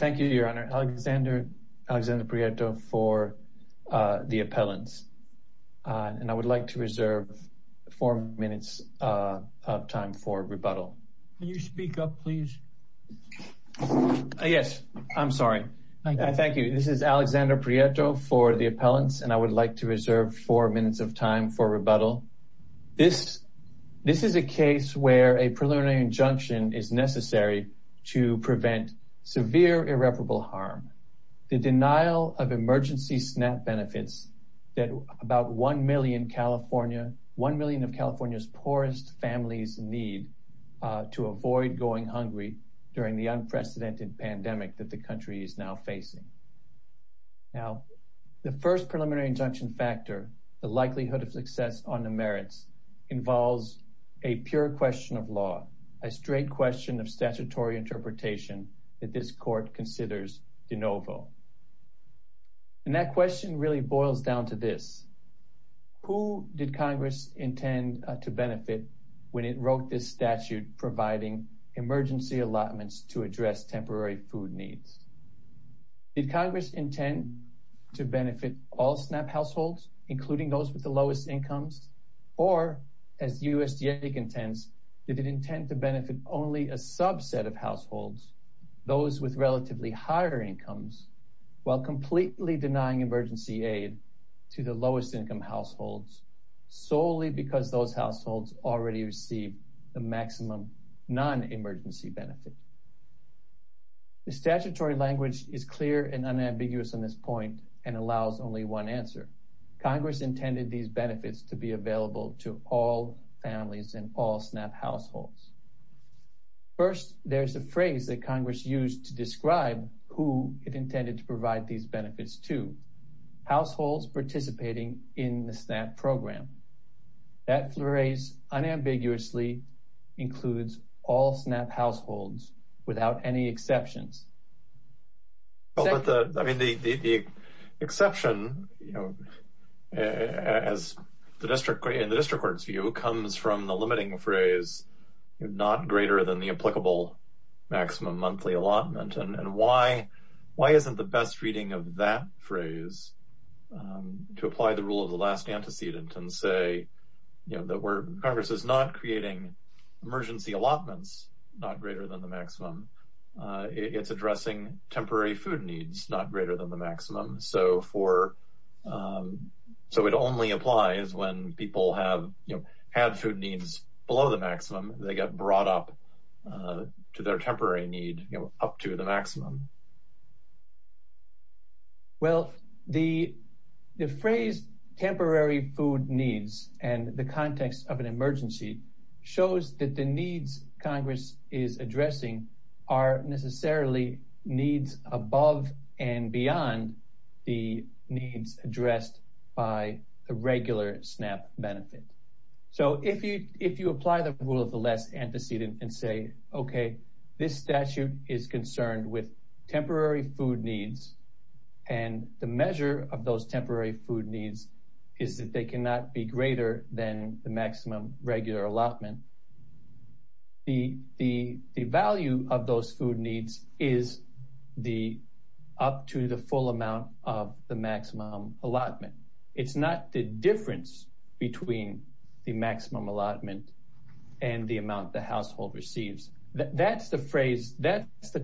thank you your honor Alexander Alexander Prieto for the appellants and I would like to reserve four minutes of time for rebuttal. Can you speak up please? Yes I'm sorry. Thank you this is Alexander Prieto for the appellants and I would like to reserve four minutes of time for rebuttal. This this is a case where a preliminary injunction is necessary to prevent severe irreparable harm. The denial of emergency SNAP benefits that about 1 million California 1 million of California's poorest families need to avoid going hungry during the unprecedented pandemic that the country is now facing. Now the first preliminary injunction factor the likelihood of success on the merits involves a pure question of law a straight question of statutory interpretation that this court considers de novo and that question really boils down to this. Who did Congress intend to benefit when it wrote this statute providing emergency allotments to address temporary food needs? Did Congress intend to benefit all SNAP households including those with the lowest incomes or as USDA intends did it intend to benefit only a subset of households those with relatively higher incomes while completely denying emergency aid to the lowest income households solely because those households already receive the maximum non-emergency benefit? The statutory language is clear and unambiguous on this point and allows only one answer. Congress intended these benefits to be available to all families and all SNAP households. First there's a phrase that Congress used to describe who it intended to provide these benefits to households participating in the SNAP program that phrase unambiguously includes all SNAP households without any exceptions. Well but the I mean the the exception you know as the district in the district court's view comes from the limiting phrase not greater than the applicable maximum monthly allotment and why why isn't the best reading of that phrase to apply the rule of the last antecedent and say you know that we're Congress is not creating emergency allotments not greater than the maximum it's addressing temporary food needs not greater than the maximum so for so it only applies when people have you know had food needs below the maximum they got brought up to their temporary need you know up to the maximum. Well the the phrase temporary food needs and the context of an emergency shows that the needs Congress is addressing are necessarily needs above and beyond the needs addressed by the regular SNAP benefit. So if you if you apply the rule of the last antecedent and say okay this statute is concerned with temporary food needs and the measure of those temporary food needs is that they cannot be greater than the maximum regular allotment the the the value of those food needs is the up to the full amount of the maximum allotment it's not the difference between the maximum allotment and the amount the household receives that's the phrase that's the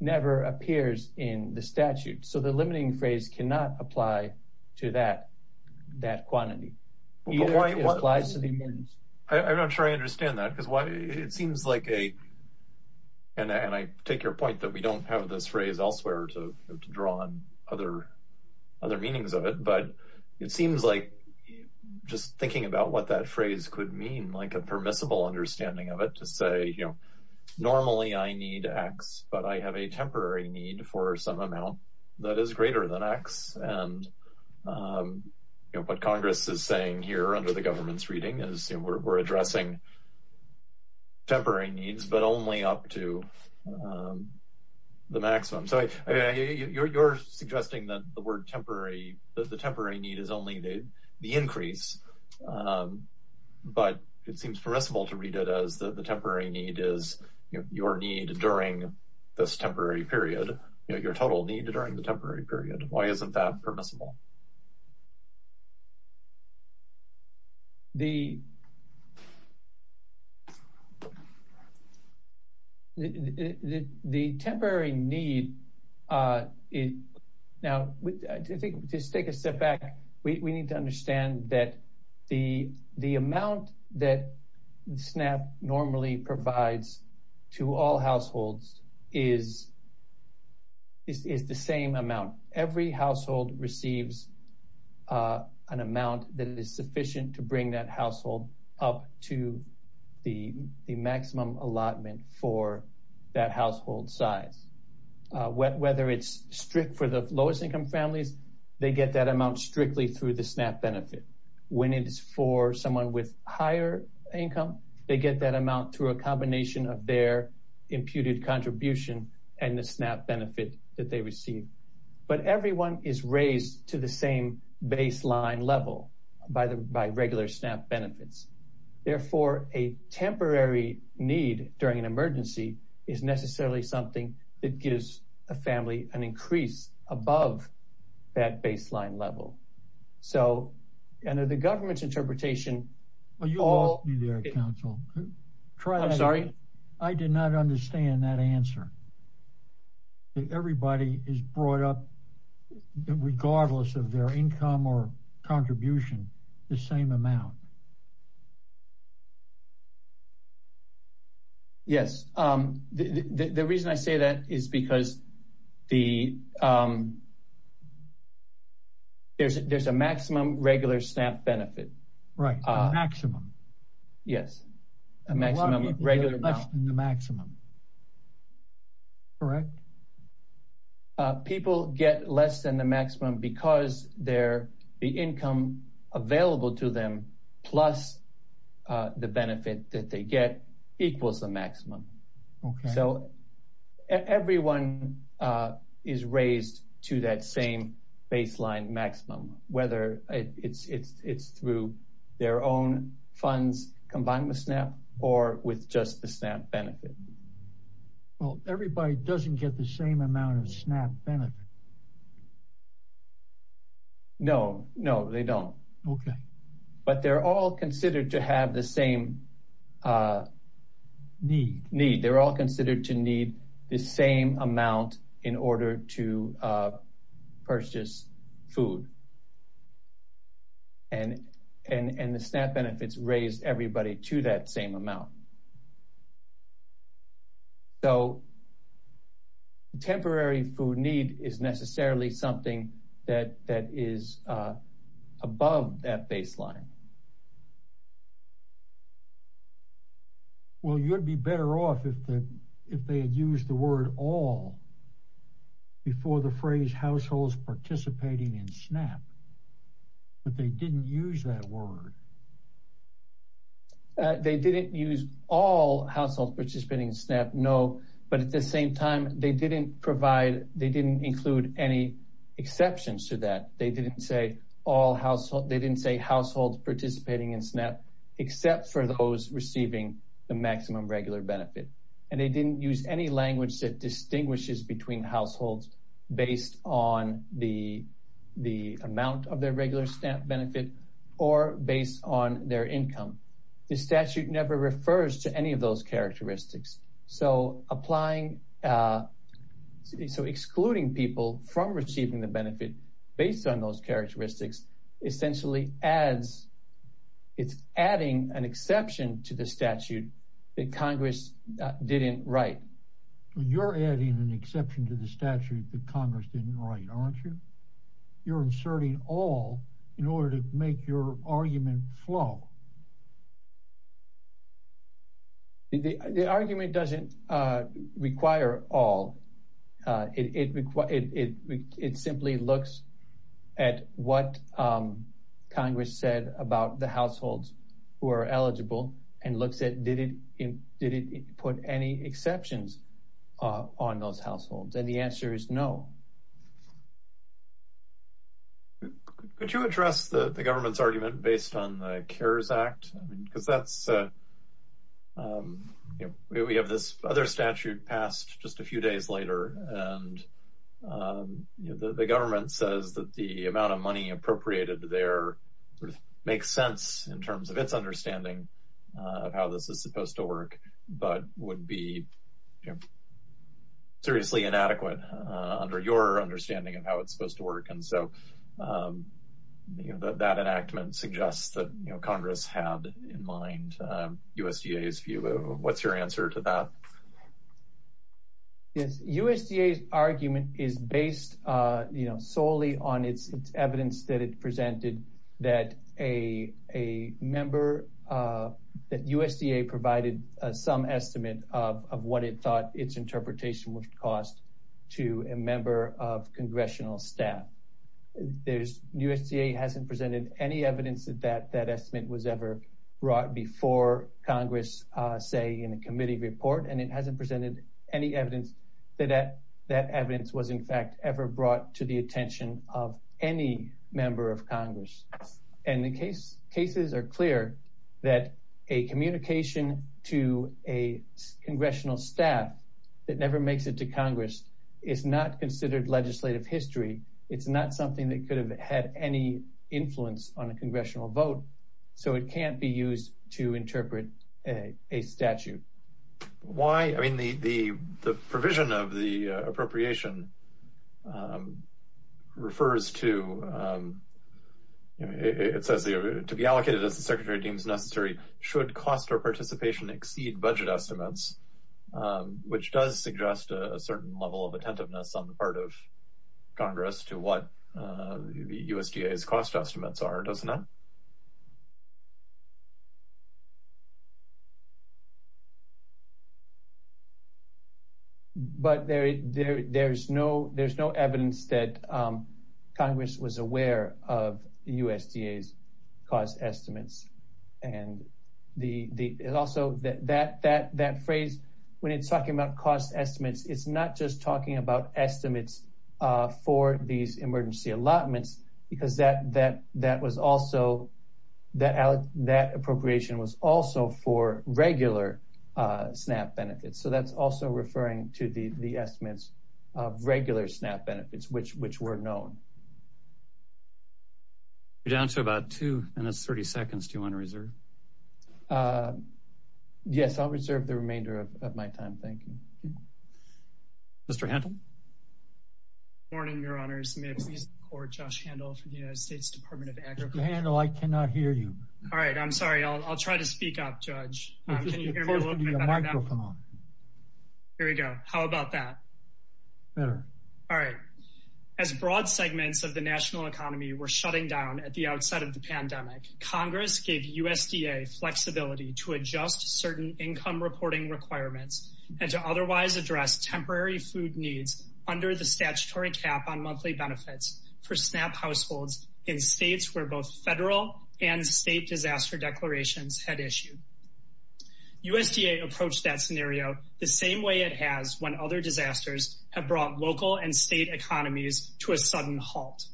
never appears in the statute so the limiting phrase cannot apply to that that quantity I'm not sure I understand that because why it seems like a and and I take your point that we don't have this phrase elsewhere to draw on other other meanings of it but it seems like just thinking about what that phrase could mean like a permissible understanding of it to say you normally I need x but I have a temporary need for some amount that is greater than x and you know what Congress is saying here under the government's reading is we're addressing temporary needs but only up to the maximum so you're suggesting that the word temporary the temporary need is only the the increase but it seems permissible to read it as the temporary need is your need during this temporary period you know your total need during the temporary period why isn't that permissible the the the temporary need uh it now I think just take a step back we need to understand that the the amount that SNAP normally provides to all households is is the same amount every household receives uh an amount that is sufficient to bring that household up to the the maximum allotment for that household size whether it's strict for the lowest income families they get that amount strictly through the SNAP benefit when it is for someone with higher income they get that amount through a combination of their imputed contribution and the SNAP benefit that they receive but everyone is raised to the same baseline level by the by regular SNAP benefits therefore a temporary need during an emergency is necessarily something that gives a family an increase above that baseline level so under the government's interpretation are you all there council try i'm sorry i did not understand that answer everybody is brought up regardless of their income or contribution the same amount yes um the the reason i say that is because the um there's there's a maximum regular SNAP benefit right uh maximum yes a maximum regular in the maximum correct uh people get less than the maximum because they're the income available to them plus uh the benefit that they get equals the maximum okay so everyone uh is raised to that same baseline maximum whether it's it's it's through their own funds combined with SNAP or with just the SNAP benefit well everybody doesn't get the same amount of SNAP benefit no no they don't okay but they're all considered to have the same need need they're all considered to need the same amount in order to uh purchase food and and and the SNAP benefits raise everybody to that same amount um so temporary food need is necessarily something that that is uh above that baseline well you would be better off if the if they had used the word all before the phrase households participating in SNAP but they didn't use that word uh they didn't use all households participating in SNAP no but at the same time they didn't provide they didn't include any exceptions to that they didn't say all household they didn't say households participating in SNAP except for those receiving the maximum regular benefit and they didn't use any language that distinguishes between households based on the the amount of on their income the statute never refers to any of those characteristics so applying uh so excluding people from receiving the benefit based on those characteristics essentially adds it's adding an exception to the statute that congress didn't write you're adding an exception to the statute that congress didn't write aren't you you're inserting all in order to make your argument flow the the argument doesn't uh require all uh it it it it it simply looks at what um congress said about the households who are eligible and looks at did it in did it put any exceptions uh on those households and the answer is no um could you address the the government's argument based on the cares act i mean because that's uh um you know we have this other statute passed just a few days later and um you know the government says that the amount of money appropriated there sort of makes sense in terms of its understanding of how this is supposed to work but would be you know seriously inadequate uh under your understanding of how it's supposed to work and so um you know that enactment suggests that you know congress had in mind um usda's view what's your answer to that yes usda's argument is based uh you know solely on its evidence that it presented that a a member uh that usda provided some estimate of of what it thought its interpretation would cost to a member of congressional staff there's usda hasn't presented any evidence that that that estimate was ever brought before congress uh say in a committee report and it hasn't presented any evidence that that evidence was in fact ever brought to the attention of any member of congress and the case cases are clear that a communication to a congressional staff that never makes it to congress is not considered legislative history it's not something that could have had any influence on a congressional vote so it can't be used to interpret a a statute why i mean the the provision of the appropriation um refers to um it says to be allocated as the secretary deems necessary should cost or participation exceed budget estimates which does suggest a certain level of attentiveness on the part of congress to what the usda's cost estimates are doesn't it but there there there's no there's no evidence that um congress was aware of usda's cost estimates and the the also that that that that phrase when it's talking about cost estimates it's not just talking about estimates uh for these emergency allotments because that that that was also that out that appropriation was also for regular uh snap benefits so that's also referring to the the estimates of regular snap benefits which which were known you're down to about two minutes 30 seconds do you want to reserve yes i'll reserve the remainder of my time thank you mr handle morning your honors may i please record josh handle from the united states department of agriculture handle i cannot hear you all right i'm sorry i'll try to speak up judge here we go how about that better all right as broad segments of the national economy were shutting down at the outside of the pandemic congress gave usda flexibility to adjust certain income reporting requirements and to otherwise address temporary food needs under the statutory cap on monthly benefits for snap households in states where both federal and state disaster declarations had issued usda approached that scenario the same way it has when other disasters have brought local and state economies to a sudden halt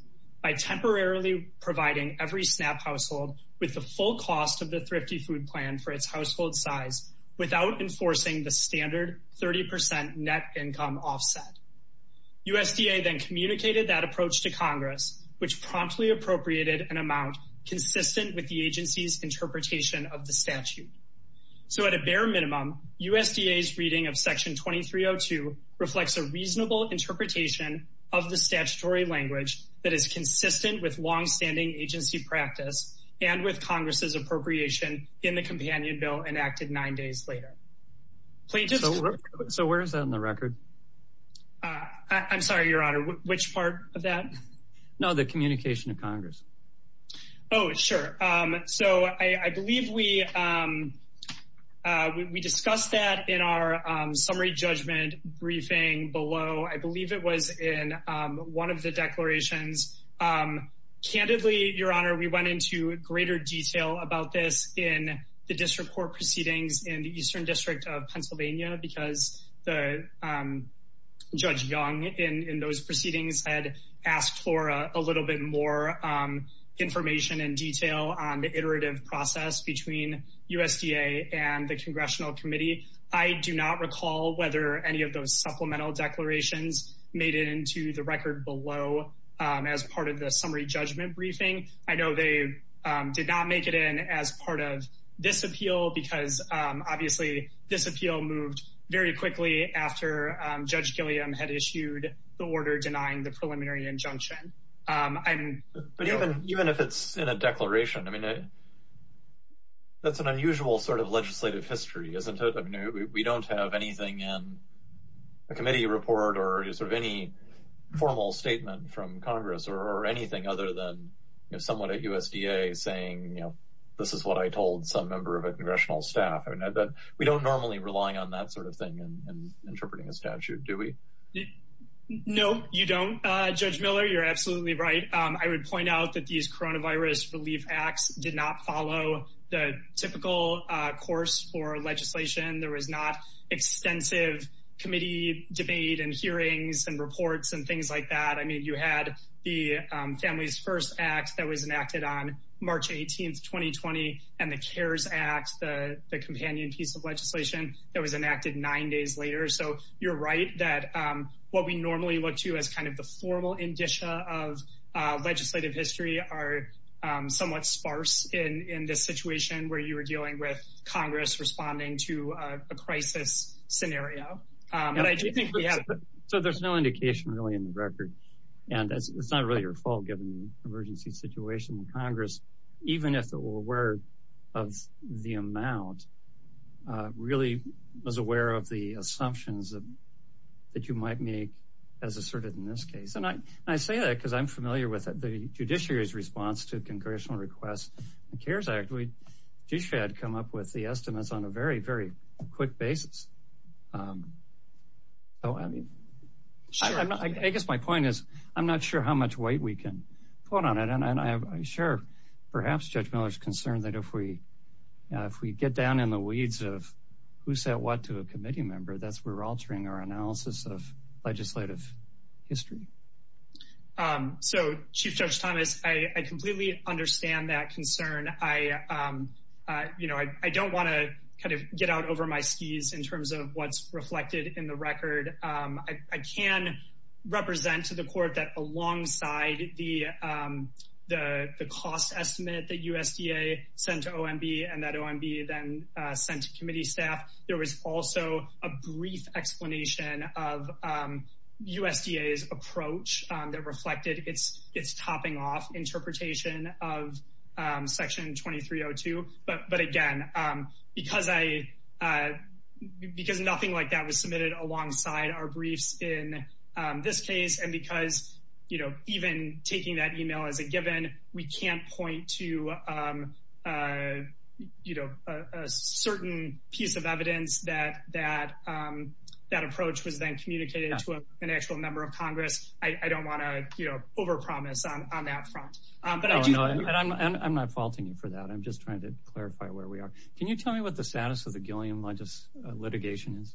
by temporarily providing every snap household with the full cost of the thrifty food plan for its household size without enforcing the standard 30 net income offset usda then communicated that approach to congress which promptly appropriated an amount consistent with the agency's interpretation of the statute so at a bare minimum usda's reading of section 2302 reflects a reasonable interpretation of the statutory language that is consistent with long-standing agency practice and with congress's appropriation in the companion bill enacted nine days later so where is that in the record i'm sorry your honor which part of that no the communication of congress oh sure um so i i believe we um uh we discussed that in our um summary judgment briefing below i believe it was in um one of the declarations um candidly your honor we went into greater detail about this in the district court proceedings in the eastern district of pennsylvania because the um judge young in in those proceedings had asked for a little bit more um information and detail on the iterative process between usda and the congressional committee i do not recall whether any of those supplemental declarations made it into the record below um as part of the summary judgment briefing i know they did not make it in as part of this appeal because um obviously this appeal moved very quickly after um judge gilliam had issued the order denying the preliminary injunction um i'm even even if it's in a declaration i mean that's an unusual sort of legislative history isn't it i mean we don't have anything in a committee report or sort of any formal statement from congress or anything other than you know someone at usda saying you know this is what i told some member of a congressional staff i mean that we don't normally rely on that sort of thing in interpreting a statute do we no you don't uh judge miller you're absolutely right um i would point out that these coronavirus relief acts did not follow the typical uh course for legislation there was not extensive committee debate and hearings and reports and things like that i mean you had the family's first act that was enacted on march 18th 2020 and the cares act the the companion piece of legislation that was enacted nine days later so you're right that um we normally look to as kind of the formal indicia of uh legislative history are um somewhat sparse in in this situation where you were dealing with congress responding to a crisis scenario so there's no indication really in the record and it's not really your fault given the emergency situation in congress even if it were aware of the amount uh really was aware of the assumptions that you might make as asserted in this case and i i say that because i'm familiar with the judiciary's response to congressional requests the cares act we just had come up with the estimates on a very very quick basis um so i mean i guess my point is i'm not sure how much weight we can put on it and i'm sure perhaps judge miller's concerned that if we uh if we get down in the analysis of legislative history um so chief judge thomas i i completely understand that concern i um uh you know i i don't want to kind of get out over my skis in terms of what's reflected in the record um i i can represent to the court that alongside the um the the cost estimate that of um usda's approach um that reflected its its topping off interpretation of um section 2302 but but again um because i uh because nothing like that was submitted alongside our briefs in this case and because you know even taking that email as a given we can't point to um uh you know a certain piece of evidence that that um that approach was then communicated to an actual member of congress i i don't want to you know over promise on that front um but i do know and i'm and i'm not faulting you for that i'm just trying to clarify where we are can you tell me what the status of the gilliam largest litigation is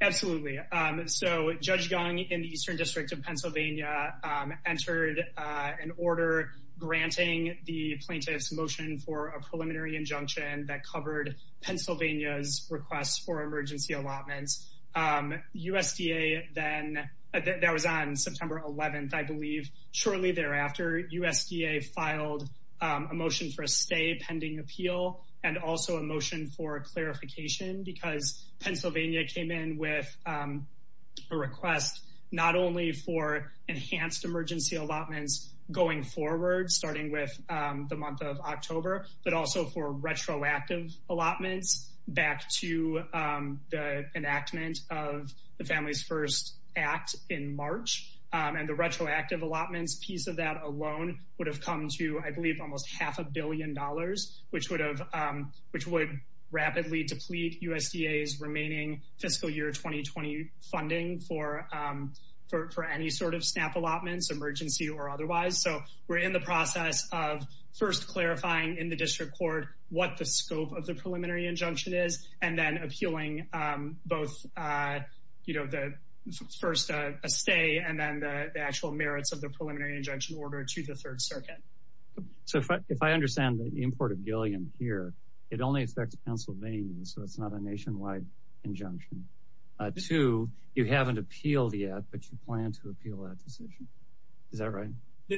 absolutely um so judge young in the eastern district of pennsylvania um entered uh an order granting the plaintiff's motion for a preliminary injunction that covered pennsylvania's requests for emergency allotments um usda then that was on september 11th i believe shortly thereafter usda filed a motion for a stay pending appeal and also a motion for clarification because pennsylvania came in with um a request not only for enhanced emergency allotments going forward starting with um the month of october but also for retroactive allotments back to um the enactment of the family's first act in march and the retroactive allotments piece of that alone would have come to i believe almost half a billion dollars which would have um which would rapidly deplete usda's remaining fiscal year 2020 funding for um for any sort of snap allotments emergency or otherwise so we're in the process of first clarifying in the district court what the scope of the preliminary injunction is and then appealing um both uh you know the first uh a stay and then the actual merits of the preliminary injunction order to the third circuit so if i understand the import of gilliam here it only affects pennsylvania so it's not a nationwide injunction uh two you haven't appealed yet but plan to appeal that decision is that right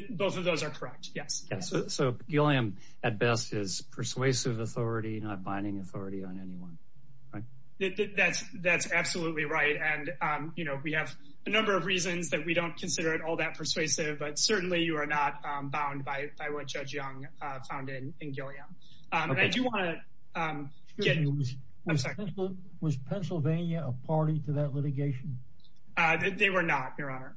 both of those are correct yes yes so gilliam at best is persuasive authority not binding authority on anyone right that's that's absolutely right and um you know we have a number of reasons that we don't consider it all that persuasive but certainly you are not um bound by by what judge young uh found in in gilliam um and i do want to um i'm sorry was pennsylvania a party to that litigation uh they were not your honor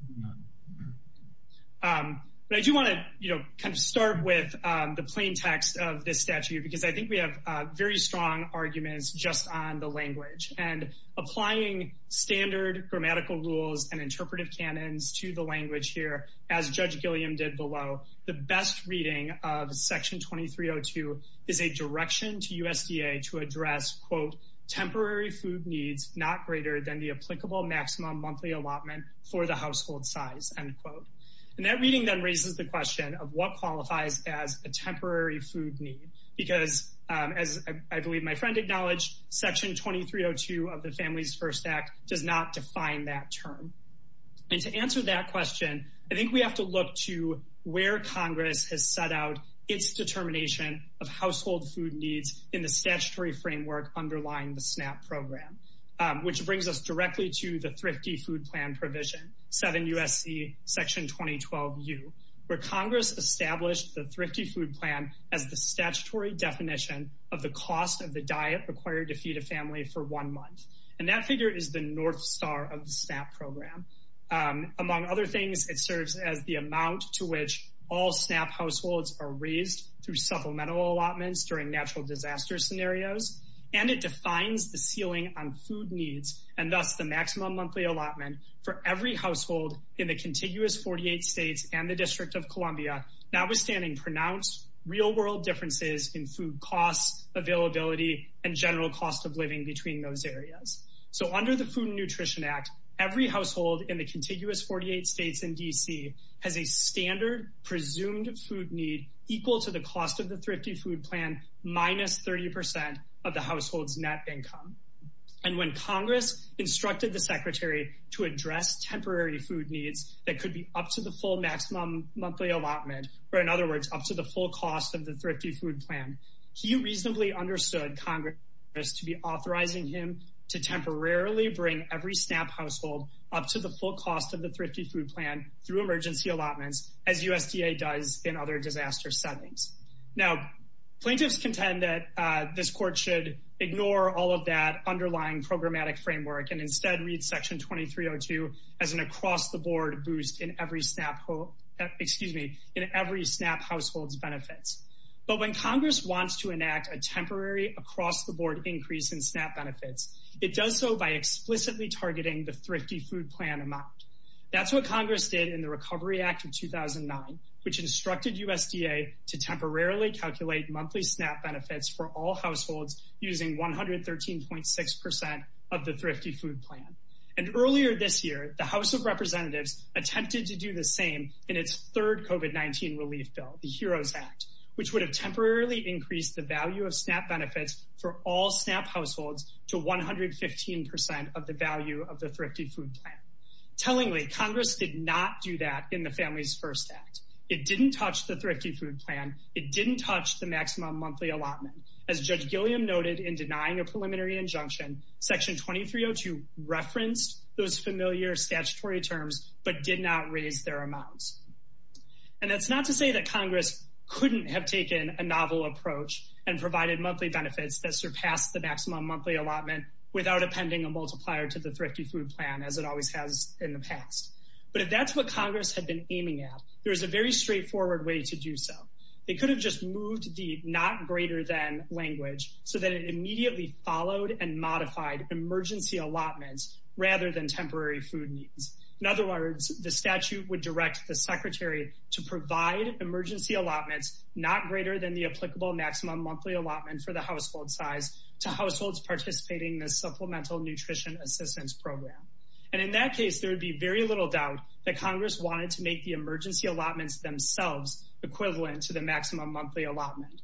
um but i do want to you know kind of start with um the plain text of this statute because i think we have uh very strong arguments just on the language and applying standard grammatical rules and interpretive canons to the language here as judge gilliam did below the best reading of section 2302 is a direction to usda to address quote temporary food needs not greater than the applicable maximum monthly allotment for the household size end quote and that reading then raises the question of what qualifies as a temporary food need because um as i believe my friend acknowledged section 2302 of the families first act does not define that term and to answer that question i needs in the statutory framework underlying the snap program which brings us directly to the thrifty food plan provision 7 usc section 2012 u where congress established the thrifty food plan as the statutory definition of the cost of the diet required to feed a family for one month and that figure is the north star of the snap program among other things it serves as the disaster scenarios and it defines the ceiling on food needs and thus the maximum monthly allotment for every household in the contiguous 48 states and the district of columbia notwithstanding pronounced real world differences in food costs availability and general cost of living between those areas so under the food nutrition act every household in the contiguous 48 states and dc has a standard presumed food need equal to the cost of the thrifty food plan minus 30 of the household's net income and when congress instructed the secretary to address temporary food needs that could be up to the full maximum monthly allotment or in other words up to the full cost of the thrifty food plan he reasonably understood congress to be authorizing him to temporarily bring every snap household up to the full cost of the thrifty food plan through emergency allotments as usda does in other disaster settings now plaintiffs contend that uh this court should ignore all of that underlying programmatic framework and instead read section 2302 as an across the board boost in every snap hole excuse me in every snap households benefits but when congress wants to enact a temporary across the board increase in snap benefits it does so by explicitly targeting the thrifty food plan amount that's what congress did in the recovery act of 2009 which instructed usda to temporarily calculate monthly snap benefits for all households using 113.6 percent of the thrifty food plan and earlier this year the house of would have temporarily increased the value of snap benefits for all snap households to 115 percent of the value of the thrifty food plan tellingly congress did not do that in the families first act it didn't touch the thrifty food plan it didn't touch the maximum monthly allotment as judge gilliam noted in denying a preliminary injunction section 2302 referenced those familiar statutory terms but did not raise their amounts and that's not to say that congress couldn't have taken a novel approach and provided monthly benefits that surpassed the maximum monthly allotment without appending a multiplier to the thrifty food plan as it always has in the past but if that's what congress had been aiming at there was a very straightforward way to do so they could have just moved the not greater than language so that it immediately followed and modified emergency allotments rather than temporary food needs in other words the statute would direct the secretary to provide emergency allotments not greater than the applicable maximum monthly allotment for the household size to households participating in the supplemental nutrition assistance program and in that case there would be very little doubt that congress wanted to make the emergency allotments themselves equivalent to the maximum monthly allotment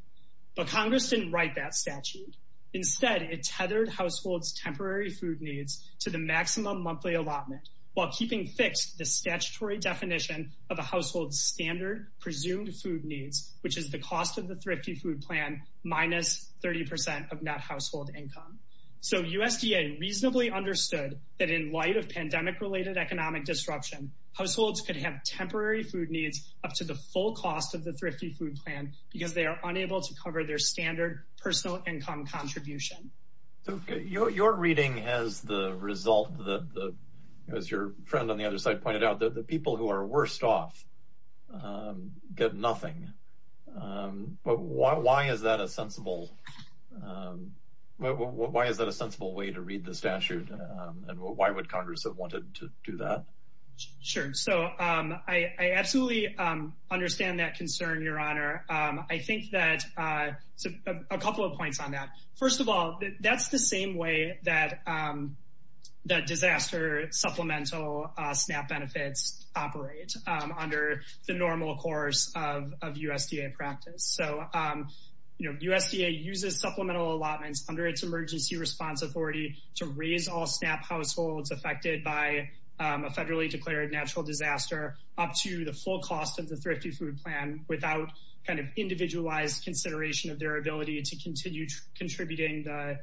but congress didn't write that statute instead it tethered households temporary food needs to the maximum monthly allotment while keeping fixed the statutory definition of a household standard presumed food needs which is the cost of the thrifty food plan minus 30 of net household income so usda reasonably understood that in light of pandemic related economic disruption households could have temporary food needs up to the full cost of the thrifty food plan because they are unable to cover their standard personal income contribution okay your reading has the result that the as your friend on the other side pointed out that the people who are worst off get nothing but why is that a sensible why is that a sensible way to read the statute and why would congress have wanted to do that sure so um i i absolutely um understand that concern your honor um i think that uh a couple of points on that first of all that's the same way that um that disaster supplemental uh snap benefits operate um under the normal course of of usda practice so um you know usda uses supplemental allotments under its emergency response authority to raise all snap households affected by a federally declared natural disaster up to the full cost of the thrifty food plan without kind of individualized consideration of their ability to continue contributing the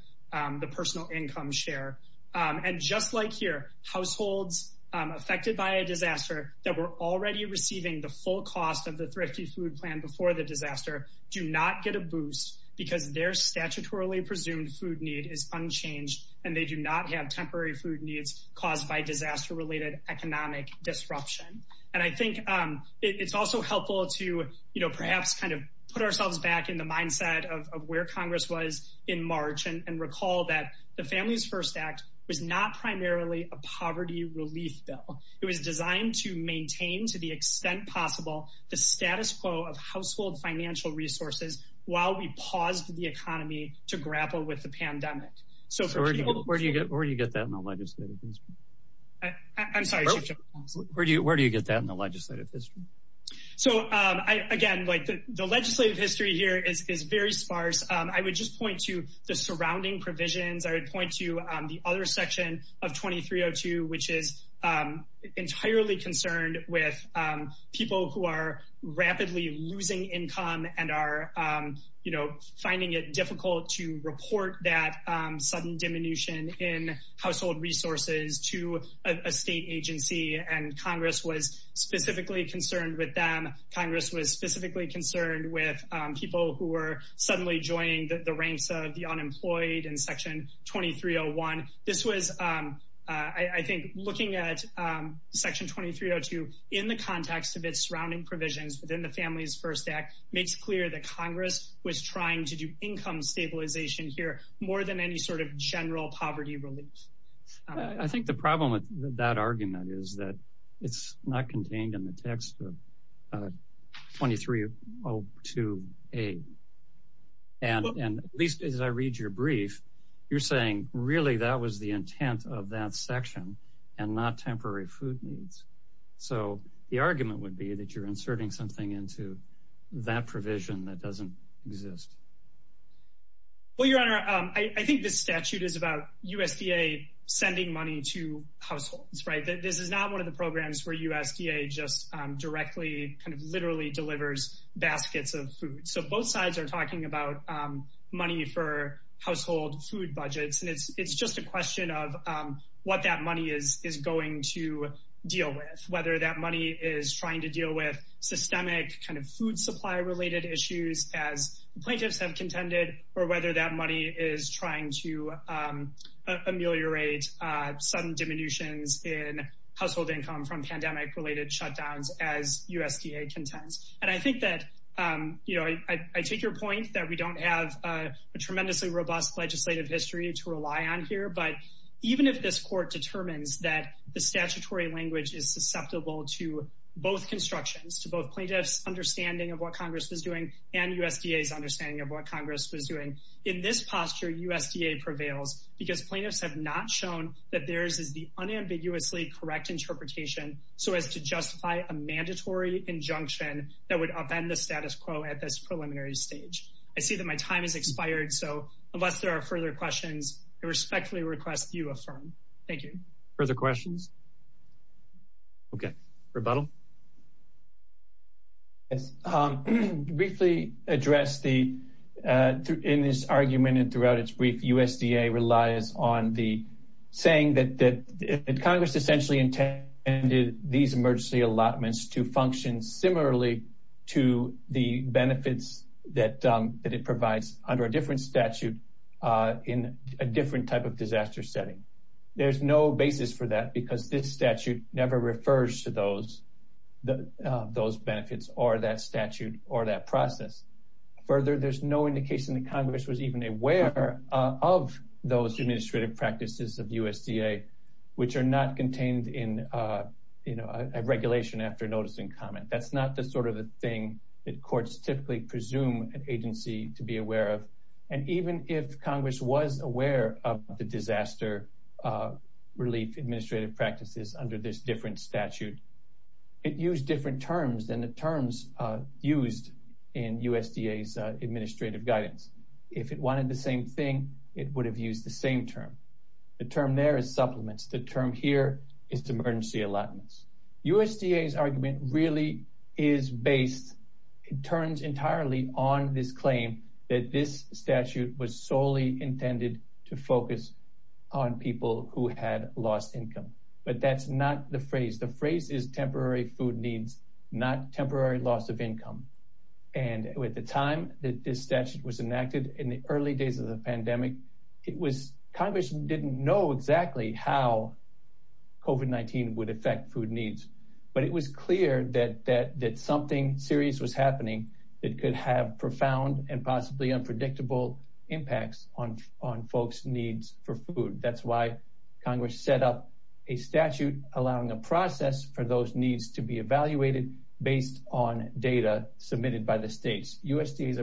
the personal income share and just like here households affected by a disaster that were already receiving the full cost of the thrifty food plan before the disaster do not get a boost because their statutorily presumed food need is unchanged and they do not have temporary food needs caused by disaster related economic disruption and i think um it's also helpful to you know perhaps kind of put ourselves back in the mindset of where congress was in march and recall that the families first act was not primarily a poverty relief bill it was designed to maintain to the extent possible the status quo of household financial resources while we paused the economy to grapple with the pandemic so where do you get where do you get that in the legislative history i'm sorry where do you where do you get that in the legislative history so um i again like the legislative history here is is very sparse um i would just point to the surrounding provisions i would point to um the other section of 2302 which is um entirely concerned with um people who are rapidly losing income and are um you know finding it difficult to report that um sudden diminution in household resources to a state agency and congress was specifically concerned with them congress was specifically concerned with um people who were suddenly joining the ranks of the unemployed in section 2301 this was um i i think looking at um section 2302 in the context of its surrounding provisions within the families first act makes clear that congress was trying to do income stabilization here more than any sort of general poverty relief i think the problem with that argument is that it's not contained in the text of 2302a and and at least as i read your brief you're saying really that was the intent of that section and not temporary food needs so the argument would be that you're inserting something into that provision that doesn't exist well your honor um i i think this statute is about usda sending money to households right this is not one of the programs where usda just um directly kind of literally delivers baskets of food so both sides are talking about um money for household food it's just a question of um what that money is is going to deal with whether that money is trying to deal with systemic kind of food supply related issues as plaintiffs have contended or whether that money is trying to um ameliorate uh sudden diminutions in household income from pandemic related shutdowns as usda contends and i think that um you know i i take your point that we don't have a tremendously robust legislative history to rely on here but even if this court determines that the statutory language is susceptible to both constructions to both plaintiffs understanding of what congress was doing and usda's understanding of what congress was doing in this posture usda prevails because plaintiffs have not shown that theirs is the unambiguously correct interpretation so as to justify a mandatory injunction that would upend the status quo at this preliminary stage i see that my time has expired so unless there are further questions i respectfully request you affirm thank you further questions okay rebuttal yes um briefly address the uh in this argument and throughout its brief usda relies on the saying that that congress essentially intended these emergency allotments to function similarly to the benefits that um that it provides under a different statute uh in a different type of disaster setting there's no basis for that because this statute never refers to those the those benefits or that statute or that process further there's no indication that congress was even aware of those administrative practices of usda which are not contained in uh you know a regulation after noticing comment that's not the sort of the thing that courts typically presume an agency to be aware of and even if congress was aware of the disaster uh relief administrative practices under this different statute it used different terms than the terms uh used in usda's uh administrative guidance if it wanted the same thing it would use the same term the term there is supplements the term here is emergency allotments usda's argument really is based it turns entirely on this claim that this statute was solely intended to focus on people who had lost income but that's not the phrase the phrase is temporary food needs not temporary loss of income and with the time that this statute was enacted in the early days of the pandemic it was congress didn't know exactly how covid19 would affect food needs but it was clear that that that something serious was happening that could have profound and possibly unpredictable impacts on on folks needs for food that's why congress set up a statute allowing a process for those needs to be evaluated based on data submitted by the states usda's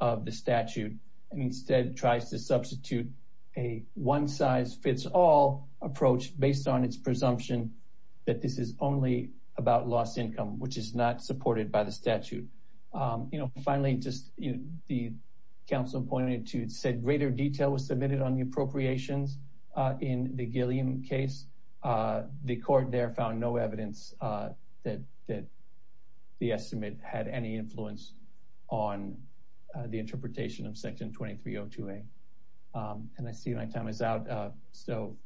of the statute and instead tries to substitute a one size fits all approach based on its presumption that this is only about lost income which is not supported by the statute um you know finally just you the council appointed to said greater detail was submitted on the appropriations in the gilliam case uh the court there found no evidence uh that that the estimate had any influence on the interpretation of section 2302a um and i see my time is out uh so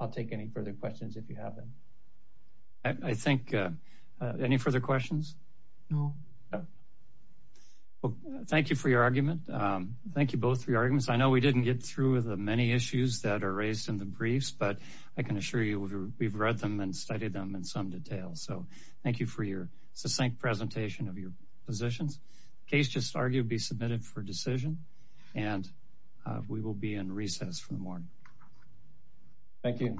i'll take any further questions if you have them i think uh any further questions no well thank you for your argument um thank you both for your arguments i know we didn't get through the many issues that are raised in the briefs but i can assure you we've read them and studied them in some detail so thank you for your succinct presentation of your positions case just argued be submitted for decision and we will be in recess for the morning thank you